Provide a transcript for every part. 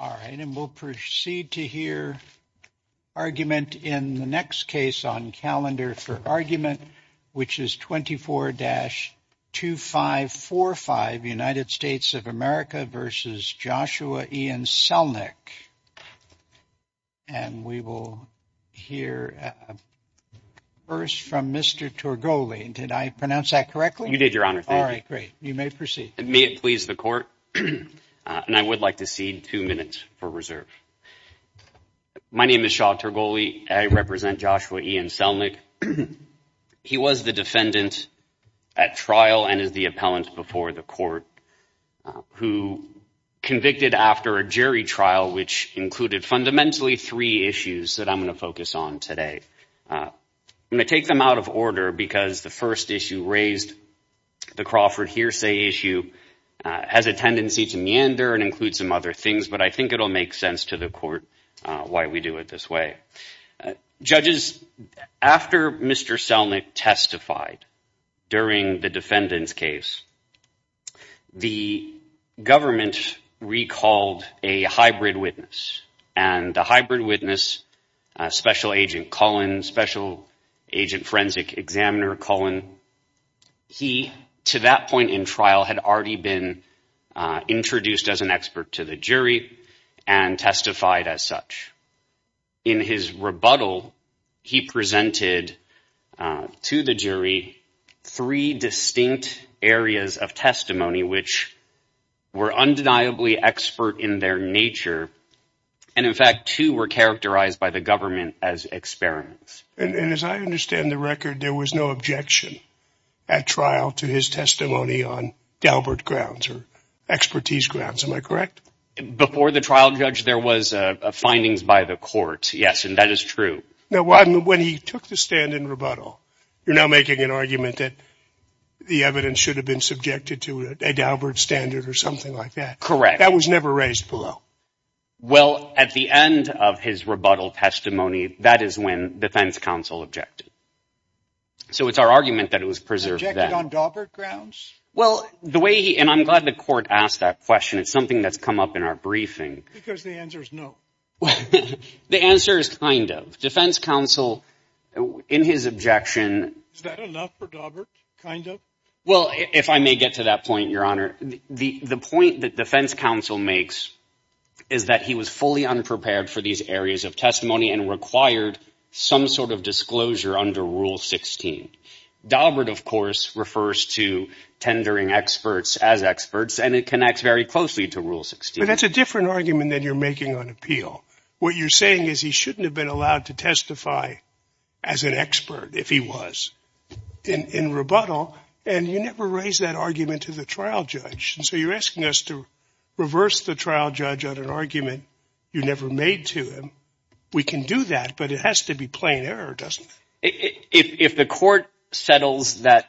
All right and we'll proceed to hear argument in the next case on calendar for argument which is 24-2545 United States of America v. Joshua Ian Celnik. And we will hear first from Mr. Torgoli. And did I pronounce that correctly? You did your honor. All right great. You may proceed. May it please the court and I would like to cede two minutes for reserve. My name is Shaw Torgoli. I represent Joshua Ian Celnik. He was the defendant at trial and is the appellant before the court who convicted after a jury trial which included fundamentally three issues that I'm going to focus on today. I'm going to take them out of order because the first issue raised the Crawford hearsay issue has a tendency to meander and include some other things but I think it'll make sense to the court why we do it this way. Judges, after Mr. Celnik testified during the defendant's case the government recalled a hybrid witness and the hybrid witness special agent Cullen special agent forensic examiner Cullen he to that point in trial had already been introduced as an expert to the jury and testified as such. In his rebuttal he presented to the jury three distinct areas of testimony which were undeniably expert in their nature and in fact two were characterized by the government as experiments. And as I understand the record there was no objection at trial to his testimony on Dalbert grounds or expertise grounds am I correct? Before the trial judge there was findings by the court yes and that is true. Now when he took the stand in rebuttal you're now making an argument that the evidence should have been subjected to a Dalbert standard or something like that. Correct. That was never raised below. Well at the end of his rebuttal testimony that is when defense counsel objected. So it's our argument that it was preserved on Dalbert grounds? Well the way and I'm glad the court asked that question it's something that's come up in our briefing. Because the answer is no. The answer is kind of. Defense counsel in his objection Is that enough for Dalbert? Kind of? Well if I may get to that point your honor the the point that defense counsel makes is that he was fully unprepared for these areas of testimony and required some sort of disclosure under rule 16. Dalbert of course refers to tendering experts as experts and it connects very closely to rule 16. But that's a different argument that you're making on appeal. What you're saying is he shouldn't have been allowed to testify as an expert if he was in rebuttal and you never raised that argument to the trial judge and so you're asking us to reverse the trial judge on an argument you never made to him. We can do that but it has to be plain error doesn't it? If the court settles that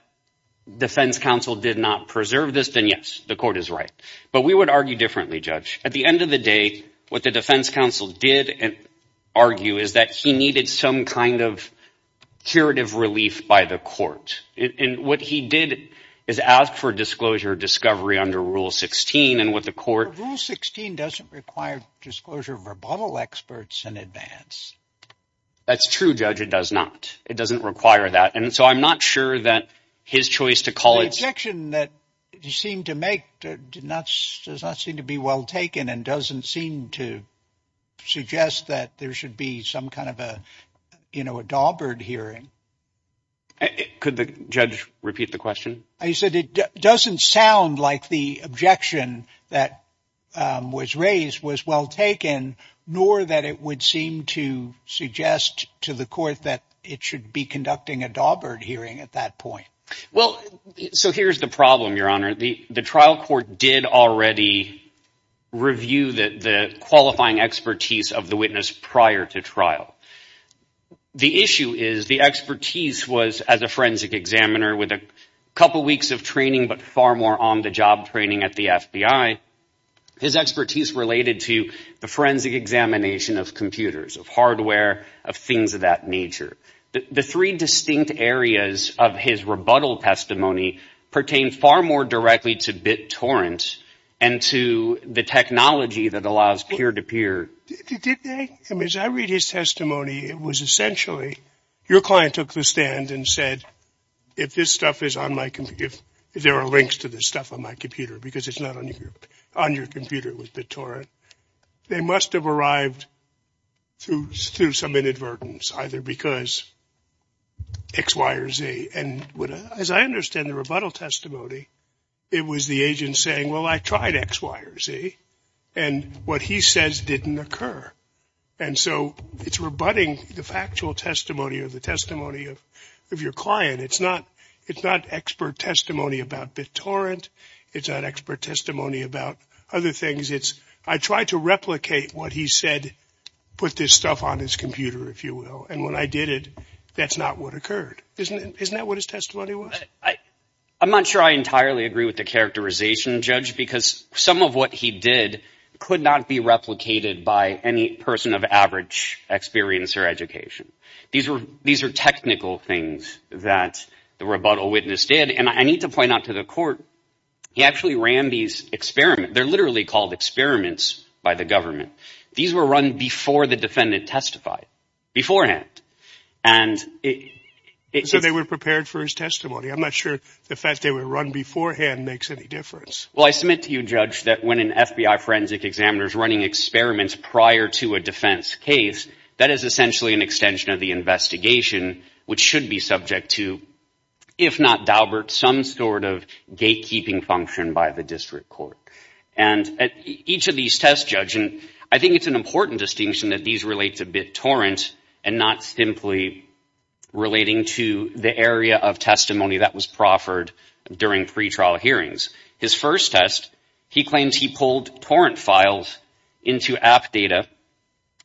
defense counsel did not preserve this then yes the court is right. But we would argue differently judge. At the end of the day what the defense counsel did and argue is that he needed some kind of curative relief by the court. And what he did is ask for disclosure discovery under rule 16 and what the court. Rule 16 doesn't require disclosure of rebuttal experts in advance. That's true judge it does not. It doesn't require that and so I'm not sure that his choice to call it. The objection that you seem to make did not does not seem to be well taken and doesn't seem to suggest that there should be some kind of a you know a Dalbert hearing. Could the judge repeat the question? He said it doesn't sound like the objection that was raised was well taken nor that it would seem to suggest to the court that it should be conducting a Dalbert hearing at that point. Well so here's the problem your honor the the trial court did already review that the qualifying expertise of the witness prior to trial. The issue is the expertise was as a forensic examiner with a couple weeks of training but far more on the job training at the FBI. His expertise related to the forensic examination of computers of hardware of things of that nature. The three distinct areas of his rebuttal testimony pertain far more directly to BitTorrent and to the technology that allows peer-to-peer. As I read his testimony it was essentially your client took the stand and said if this stuff is on my computer if there are links to this stuff on my computer because it's not on your computer with BitTorrent they must have arrived through some inadvertence either because X Y or Z and as I understand the rebuttal testimony it was the agent saying well I tried X Y or Z and what he says didn't occur and so it's rebutting the factual testimony of the testimony of your client it's not it's not expert testimony about BitTorrent it's not expert testimony about other things it's I tried to replicate what he said put this stuff on his computer if you will and when I did it that's not what occurred isn't it isn't that what his testimony was? I'm not sure I entirely agree with the characterization judge because some of what he did could not be replicated by any person of average experience or education these were these are technical things that the rebuttal witness did and I need to point out to the court he actually ran these experiments they're literally called experiments by the government these were run before the defendant testified beforehand and so they were prepared for his testimony I'm not sure the fact they were run beforehand makes any difference well I submit to you judge that when an FBI forensic examiner is running experiments prior to a defense case that is essentially an extension of the investigation which should be subject to if not daubert some sort of gatekeeping function by the district court and at each of these tests judge and I think it's an important distinction that these relate to BitTorrent and not simply relating to the area of testimony that was proffered during pretrial hearings his first test he claims he pulled torrent files into app data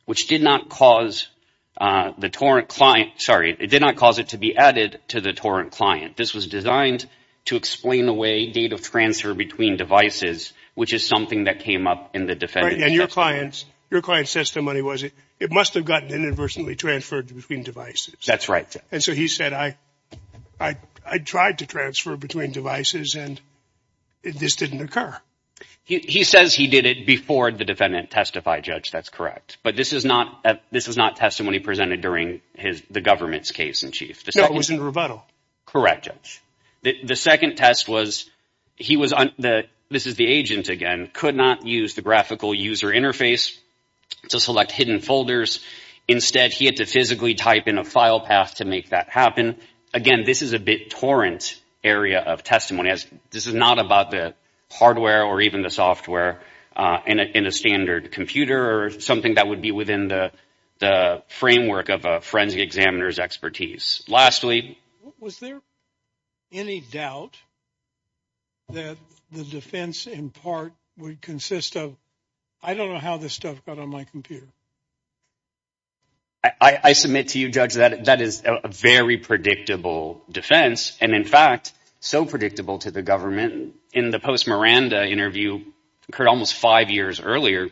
which did not cause the torrent client sorry it did not cause it to be added to the torrent client this was designed to explain the way data transfer between devices which is something that came up in the defendant and your clients your client says the money was it it must have gotten inadvertently transferred between devices that's right and so he said I I tried to transfer between devices and this didn't occur he says he did it before the defendant testified judge that's correct but this is not this is not testimony presented during his the government's case in chief the start was in rebuttal correct judge the second test was he was on the this is the agent again could not use the graphical user interface to select hidden folders instead he had to physically type in a file path to make that happen again this is a BitTorrent area of testimony as this is not about the hardware or even the software in a standard computer or something that would be within the framework of a forensic examiner's expertise lastly was there any doubt that the defense in part would consist of I don't know how this stuff got on my computer I submit to you judge that that is a very predictable defense and in fact so predictable to the government in the post Miranda interview occurred almost five years earlier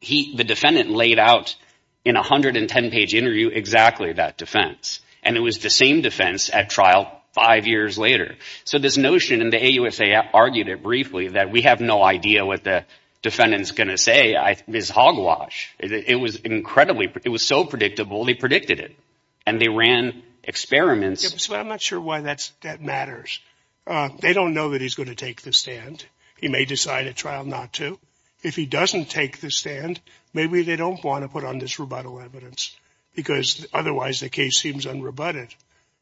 he the defendant laid out in a hundred and ten page interview exactly that defense and it was the same defense at trial five years later so this notion in the a USA argued it briefly that we have no idea what the defendant's gonna say I miss hogwash it was incredibly it was so predictable they predicted it and they ran experiments I'm not sure why that's that matters they don't know that he's going to take the stand he may decide a trial not to if he doesn't take the stand maybe they don't want to put on this rebuttal evidence because otherwise the case seems unrebutted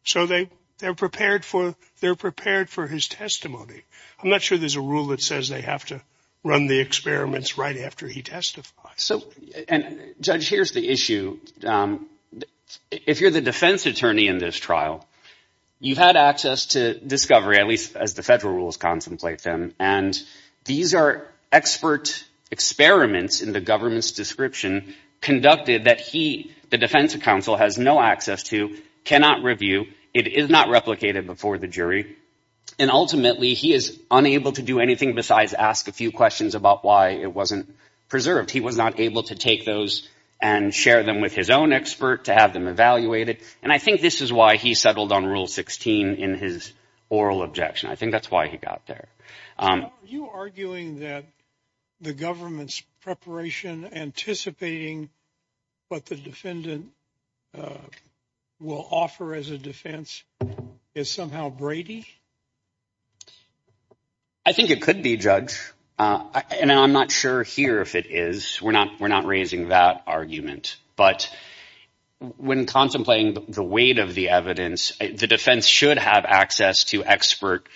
so they they're prepared for they're prepared for his testimony I'm not sure there's a rule that says they have to run the experiments right after he testified so and judge here's the issue if you're the defense attorney in this trial you've had access to discovery at least as the federal rules contemplate them and these are expert experiments in the government's description conducted that he the defense counsel has no access to cannot review it is not replicated before the jury and ultimately he is unable to do anything besides ask a few questions about why it wasn't preserved he was not able to take those and share them with his own expert to have them evaluated and I think this is why he settled on rule 16 in his oral objection I think that's why he got there you arguing that the government's preparation anticipating what the defendant will offer as a defense is somehow Brady I think it could be judge and I'm not sure here if it is we're not we're not raising that argument but when contemplating the weight of the evidence the defense should have access to expert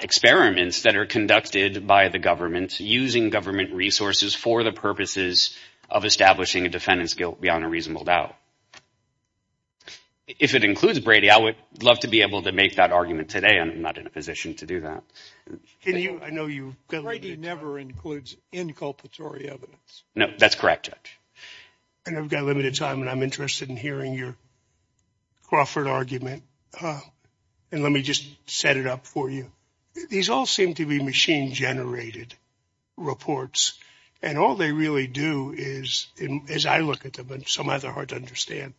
experiments that are conducted by the government using government resources for the purposes of establishing a defendant's guilt beyond a reasonable doubt if it includes Brady I would love to be able to make that argument today I'm not in a position to do that no that's correct judge and I've got a limited time and I'm interested in hearing your Crawford argument and let me just set it up for you these all seem to be machine-generated reports and all they really do is as I look at them and some other hard to understand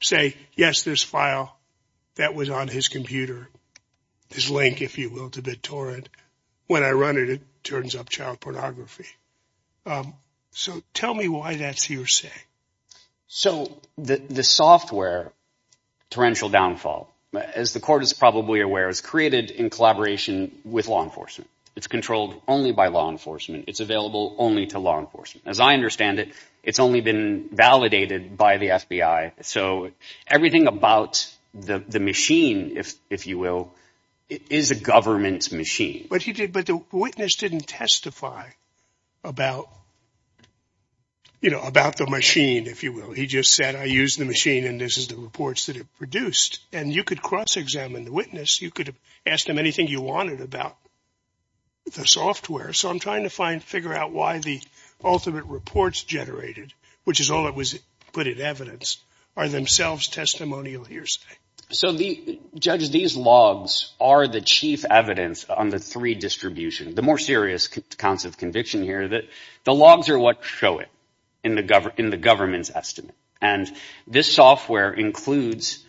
say yes this file that was on his computer this link if you will to BitTorrent when I run it it turns up child pornography so tell me why that's your say so the the software torrential downfall as the court is probably aware is created in collaboration with law enforcement it's controlled only by law enforcement it's available only to law enforcement as I understand it it's only been validated by the FBI so everything about the the machine if if you will it is a government's machine but he did but the witness didn't testify about you know about the machine if you will he just said I use the machine and this is the reports that have produced and you could cross-examine the witness you could have asked him anything you wanted about the software so I'm trying to find figure out why the ultimate reports generated which is all it was put in evidence are themselves testimonial hearsay so the judges these logs are the chief evidence on the three distribution the more serious counts of conviction here that the logs are what show it in the government in the government's estimate and this software includes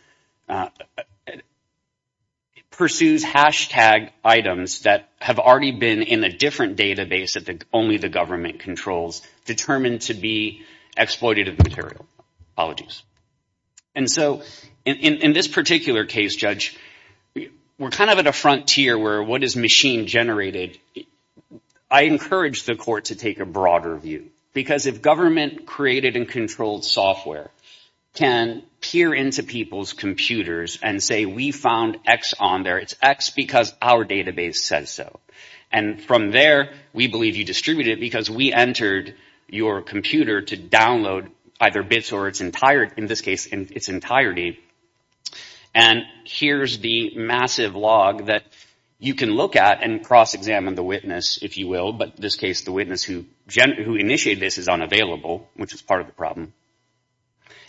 pursues hashtag items that have already been in a different database at the only the government controls determined to be exploited of material apologies and so in this particular case judge we're kind of at a frontier where what is machine generated I encourage the court to take a broader view because if government created and controlled software can peer into people's computers and say we found X on there it's X because our database says so and from there we believe you distribute it because we entered your computer to download either bits or its entire in this case in its entirety and here's the massive log that you can look at and cross-examine the witness if you will but this case the witness who who initiated this is unavailable which is part of the problem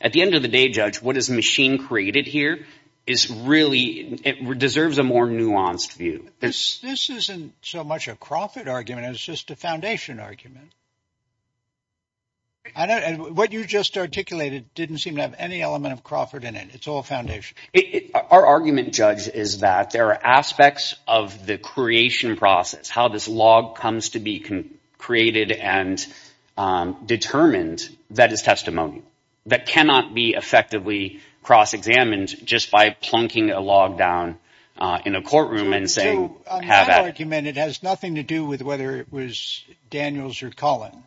at the end of the day judge what is machine created here is really it deserves a more nuanced view this isn't so much a Crawford argument it's just a foundation argument I don't what you just articulated didn't seem to have any element of Crawford in it it's all foundation our argument judge is that there are aspects of the creation process how this log comes to be created and determined that is testimony that cannot be effectively cross-examined just by plunking a log down in a courtroom and saying have argument it has nothing to do with whether it was Daniels or Colin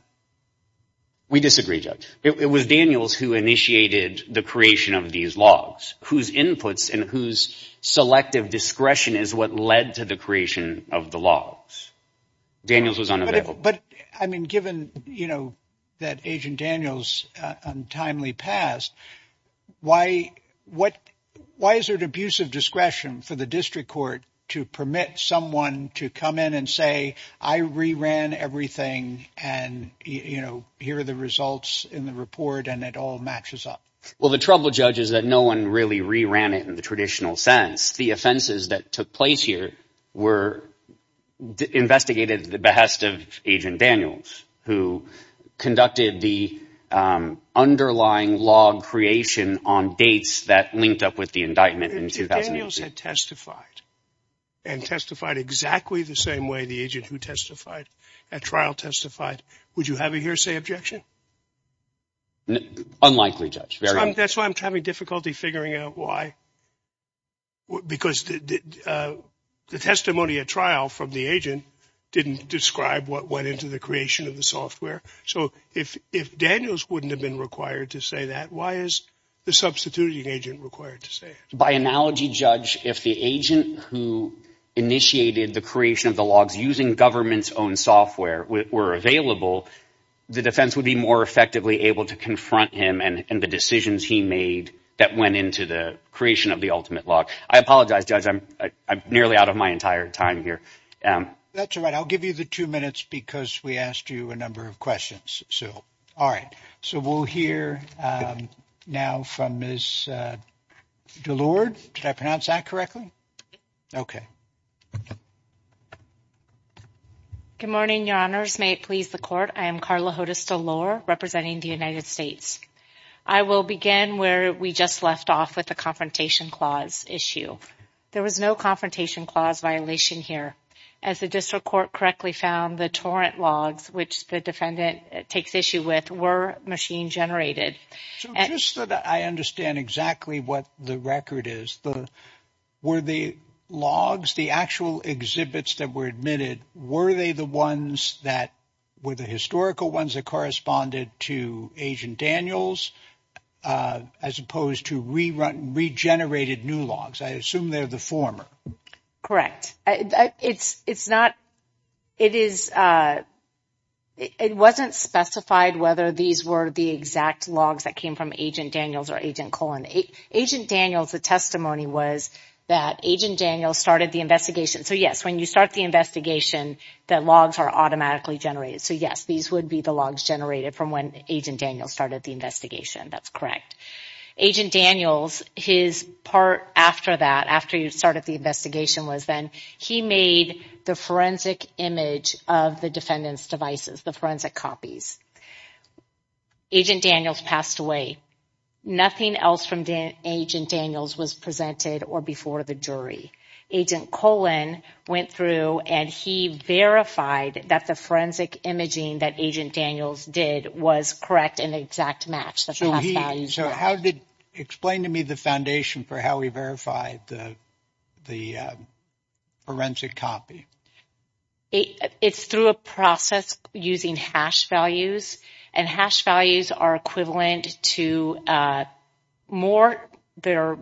we disagree judge it was Daniels who initiated the creation of these logs whose inputs and whose selective discretion is what led to the creation of the logs Daniels was unavailable but I mean given you know that agent Daniels untimely passed why what why is it abusive discretion for the district court to permit someone to come in and say I re-ran everything and you know here are the results in the report and it all matches up well the trouble judge is that no one really re-ran it in the traditional sense the offenses that took place here were investigated the behest of agent Daniels who conducted the underlying log creation on dates that linked up with the indictment in 2000 years had testified and testified exactly the same way the agent who testified at trial testified would you have a hearsay objection unlikely judge that's why I'm having difficulty figuring out why because the testimony at trial from the agent didn't describe what went into the creation of the software so if if Daniels wouldn't have been required to say that why is the substituting agent required to say by analogy judge if the agent who initiated the creation of the logs using government's own software were available the defense would be more effectively able to confront him and the decisions he made that went into the creation of the ultimate log I apologize judge I'm nearly out of my entire time here that's all right I'll give you the two minutes because we asked you a number of questions so all right so we'll hear now from Ms. Delord did I pronounce that correctly okay good morning your honors may it please the court I am Carla Hodes Delord representing the United States I will begin where we just left off with the confrontation clause issue there was no confrontation clause violation here as the district court correctly found the torrent logs which the defendant takes issue with were machine-generated and I understand exactly what the record is the were the logs the actual exhibits that were admitted were they the ones that were the historical ones that corresponded to agent Daniels as opposed to rerun regenerated new logs I assume they're the former correct it's it's not it is it wasn't specified whether these were the exact logs that came from agent Daniels or agent colon a agent Daniels the testimony was that agent Daniels started the investigation so yes when you start the investigation that logs are automatically generated so yes these would be the logs generated from when agent Daniels started the investigation that's correct agent Daniels his part after that after you started the was then he made the forensic image of the defendants devices the forensic copies agent Daniels passed away nothing else from the agent Daniels was presented or before the jury agent colon went through and he verified that the forensic imaging that agent Daniels did was correct in the exact match that so how did explain to me the foundation for how we verified the the forensic copy it's through a process using hash values and hash values are equivalent to more they're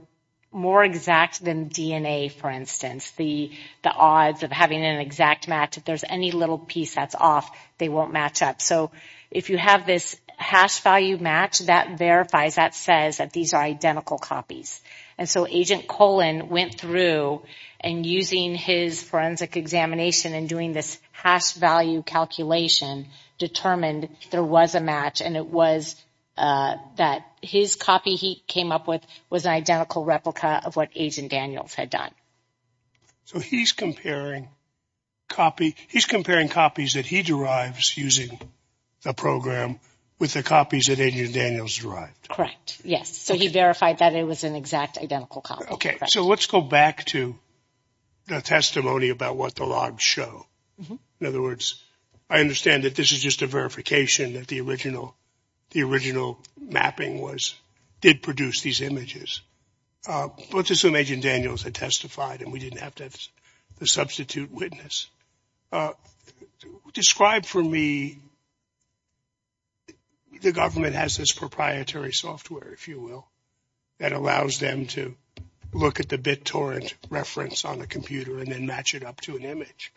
more exact than DNA for instance the the odds of having an exact match if there's any little piece that's off they won't match up so if you have this hash value match that verifies that says that these are identical copies and so agent colon went through and using his forensic examination and doing this hash value calculation determined there was a match and it was that his copy he came up with was an identical replica of what agent Daniels had done so he's comparing copy he's comparing copies that he derives using the program with the copies that agent Daniels right correct yes so he verified that it was an exact identical copy okay so let's go back to the testimony about what the logs show in other words I understand that this is just a verification that the original the original mapping was did produce these images let's assume agent Daniels had testified and we didn't have to substitute witness describe for me the government has this proprietary software if you will that allows them to look at the bit torrent reference on a computer and then match it up to an image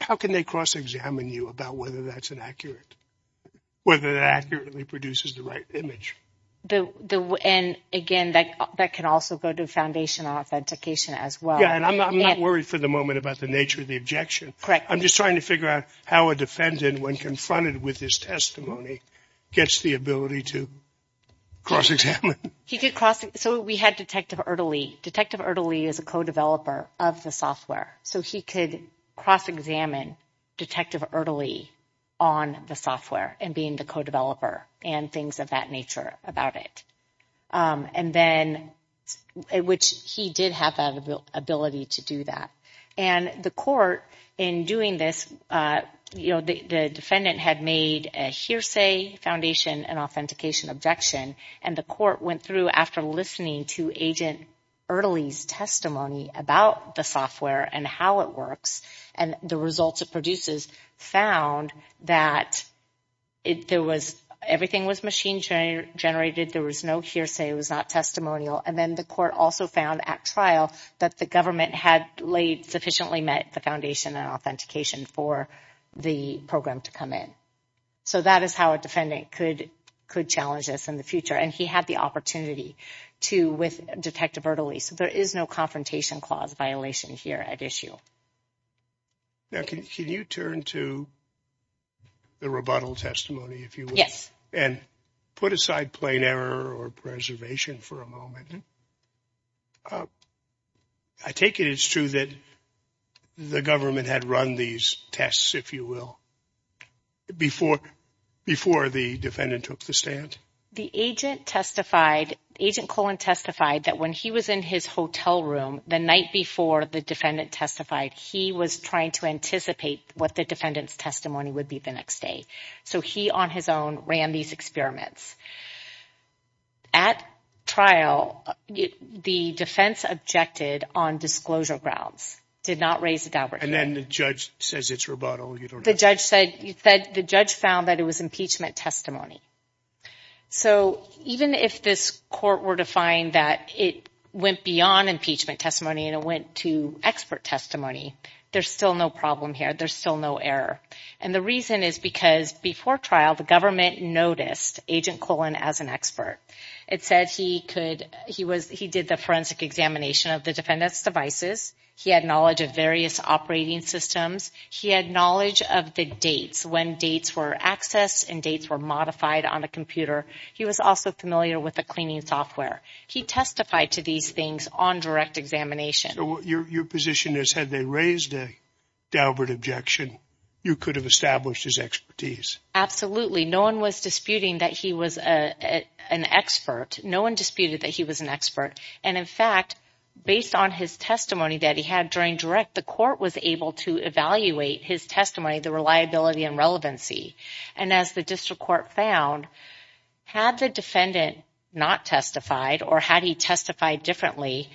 how can they cross-examine you about whether that's an accurate whether that accurately produces the right image the and again that that can also go to foundation authentication as well and I'm not worried for the moment about the nature of the objection correct I'm just trying to figure out how a defendant when confronted with his testimony gets the ability to cross-examine he could cross so we had detective early detective early as a co-developer of the software so he could cross-examine detective early on the software and being the co-developer and things of that nature about it and then which he did have that ability to do that and the court in doing this you know the defendant had made a hearsay foundation and authentication objection and the court went through after listening to agent early's testimony about the software and how it works and the results it produces found that it there was everything was machine generated there was no hearsay it was not testimonial and then the court also found at trial that the government had laid sufficiently met the foundation and authentication for the program to come in so that is how a defendant could could challenge us in the future and he had the opportunity to with detective early so there is no confrontation clause violation here at issue now can you turn to the rebuttal testimony if you yes and put aside plain error or preservation for a moment I take it it's true that the government had run these tests if you will before before the defendant took the stand the agent testified agent colon testified that when he was in his hotel room the night before the defendant testified he was trying to anticipate what the defendant's testimony would be the next day so he on his own ran these experiments at trial the defense objected on disclosure grounds did not raise a doubt and then the judge says it's rebuttal you don't the judge said you said the judge found that it was impeachment testimony so even if this court were to find that it went beyond impeachment testimony and it went to expert testimony there's still no problem here there's still no error and the reason is because before trial the government noticed agent colon as an expert it said he could he was he did the forensic examination of the defendant's devices he had knowledge of various operating systems he had knowledge of the dates when dates were accessed and dates were modified on a computer he was also familiar with the cleaning software he testified to these things on direct examination your position is had they raised a Dalbert objection you could have established his expertise absolutely no one was disputing that he was a an expert no one disputed that he was an expert and in fact based on his testimony that he had during direct the court was able to evaluate his testimony the reliability and relevancy and as the district court found had the defendant not testified or had he testified differently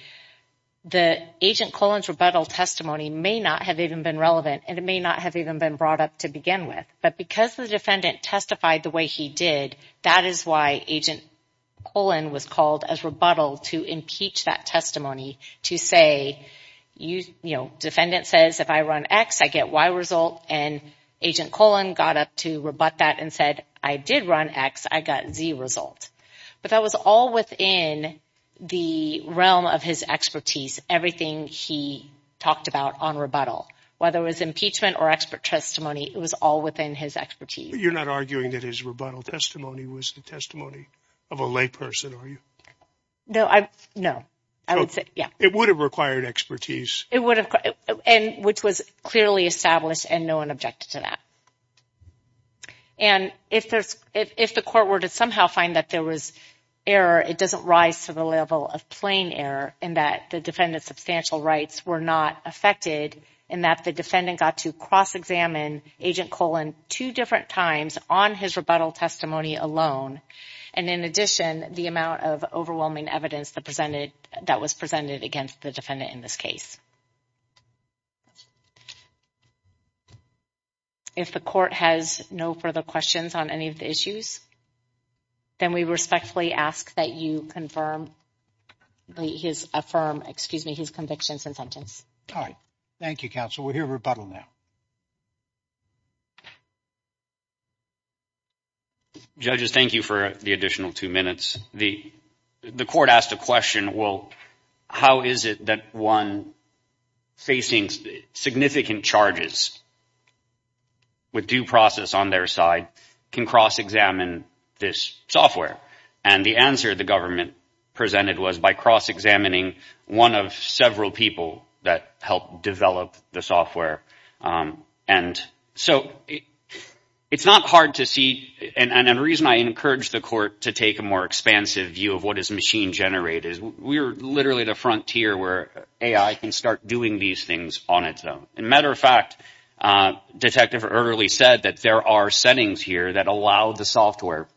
the agent Collins rebuttal testimony may not have even been relevant and it may not have even been brought up to begin with but because the defendant testified the way he did that is why agent colon was called as rebuttal to impeach that testimony to say you know defendant says if I run X I get Y result and agent colon got up to rebut that and said I did run X I got Z result but that was all within the realm of his expertise everything he talked about on rebuttal whether it was impeachment or expert testimony it was all within his expertise you're not arguing that his rebuttal testimony was the testimony of a layperson are you no I know I would say yeah it would have required expertise it would have and which was clearly established and no one objected to that and if there's if the court were to somehow find that there was error it doesn't rise to the level of plain error and that the defendant's substantial rights were not affected and that the defendant got to cross-examine agent colon two different times on his rebuttal testimony alone and in addition the amount of overwhelming evidence that presented that was if the court has no further questions on any of the issues then we respectfully ask that you confirm his affirm excuse me his convictions and sentence all right Thank You counsel we'll hear rebuttal now judges thank you for the additional two minutes the the court asked a question well how is it that one facing significant charges with due process on their side can cross-examine this software and the answer the government presented was by cross-examining one of several people that helped develop the software and so it's not hard to see and a reason I encourage the court to take a more expansive view of what is machine generated we're literally the frontier where AI can start doing these things on its own in matter of fact detective early said that there are settings here that allow the software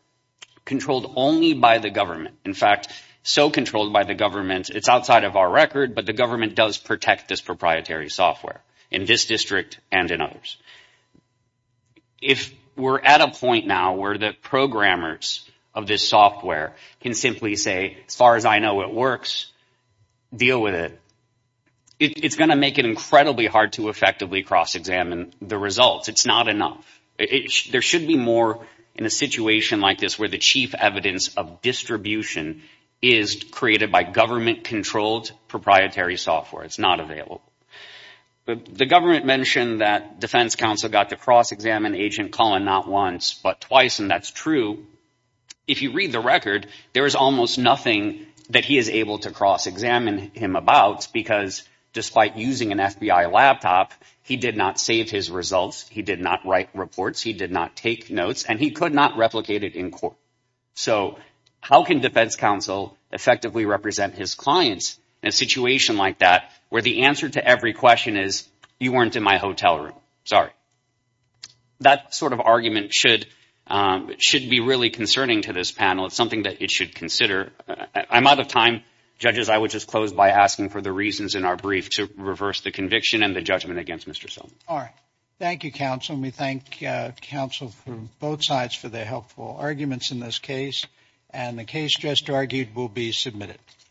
controlled only by the government in fact so controlled by the government it's outside of our record but the government does protect this proprietary software in this district and in others if we're at a point now where the programmers of this software can simply say as far as I know it works deal with it it's gonna make it incredibly hard to effectively cross-examine the results it's not enough it there should be more in a situation like this where the chief evidence of distribution is created by government controlled proprietary software it's not available but the government mentioned that defense counsel got to cross-examine agent Colin not once but twice and that's true if you read the record there is almost nothing that he is able to cross-examine him about because despite using an FBI laptop he did not save his results he did not write reports he did not take notes and he could not replicate it in court so how can defense counsel effectively represent his clients in a situation like that where the answer to every question is you weren't in my hotel room sorry that sort of argument should should be really concerning to this panel it's something that it should consider I'm out of time judges I would just close by asking for the reasons in our brief to reverse the conviction and the judgment against mr. so all right Thank You counsel me thank counsel for both sides for their helpful arguments in this case and the case just argued will be submitted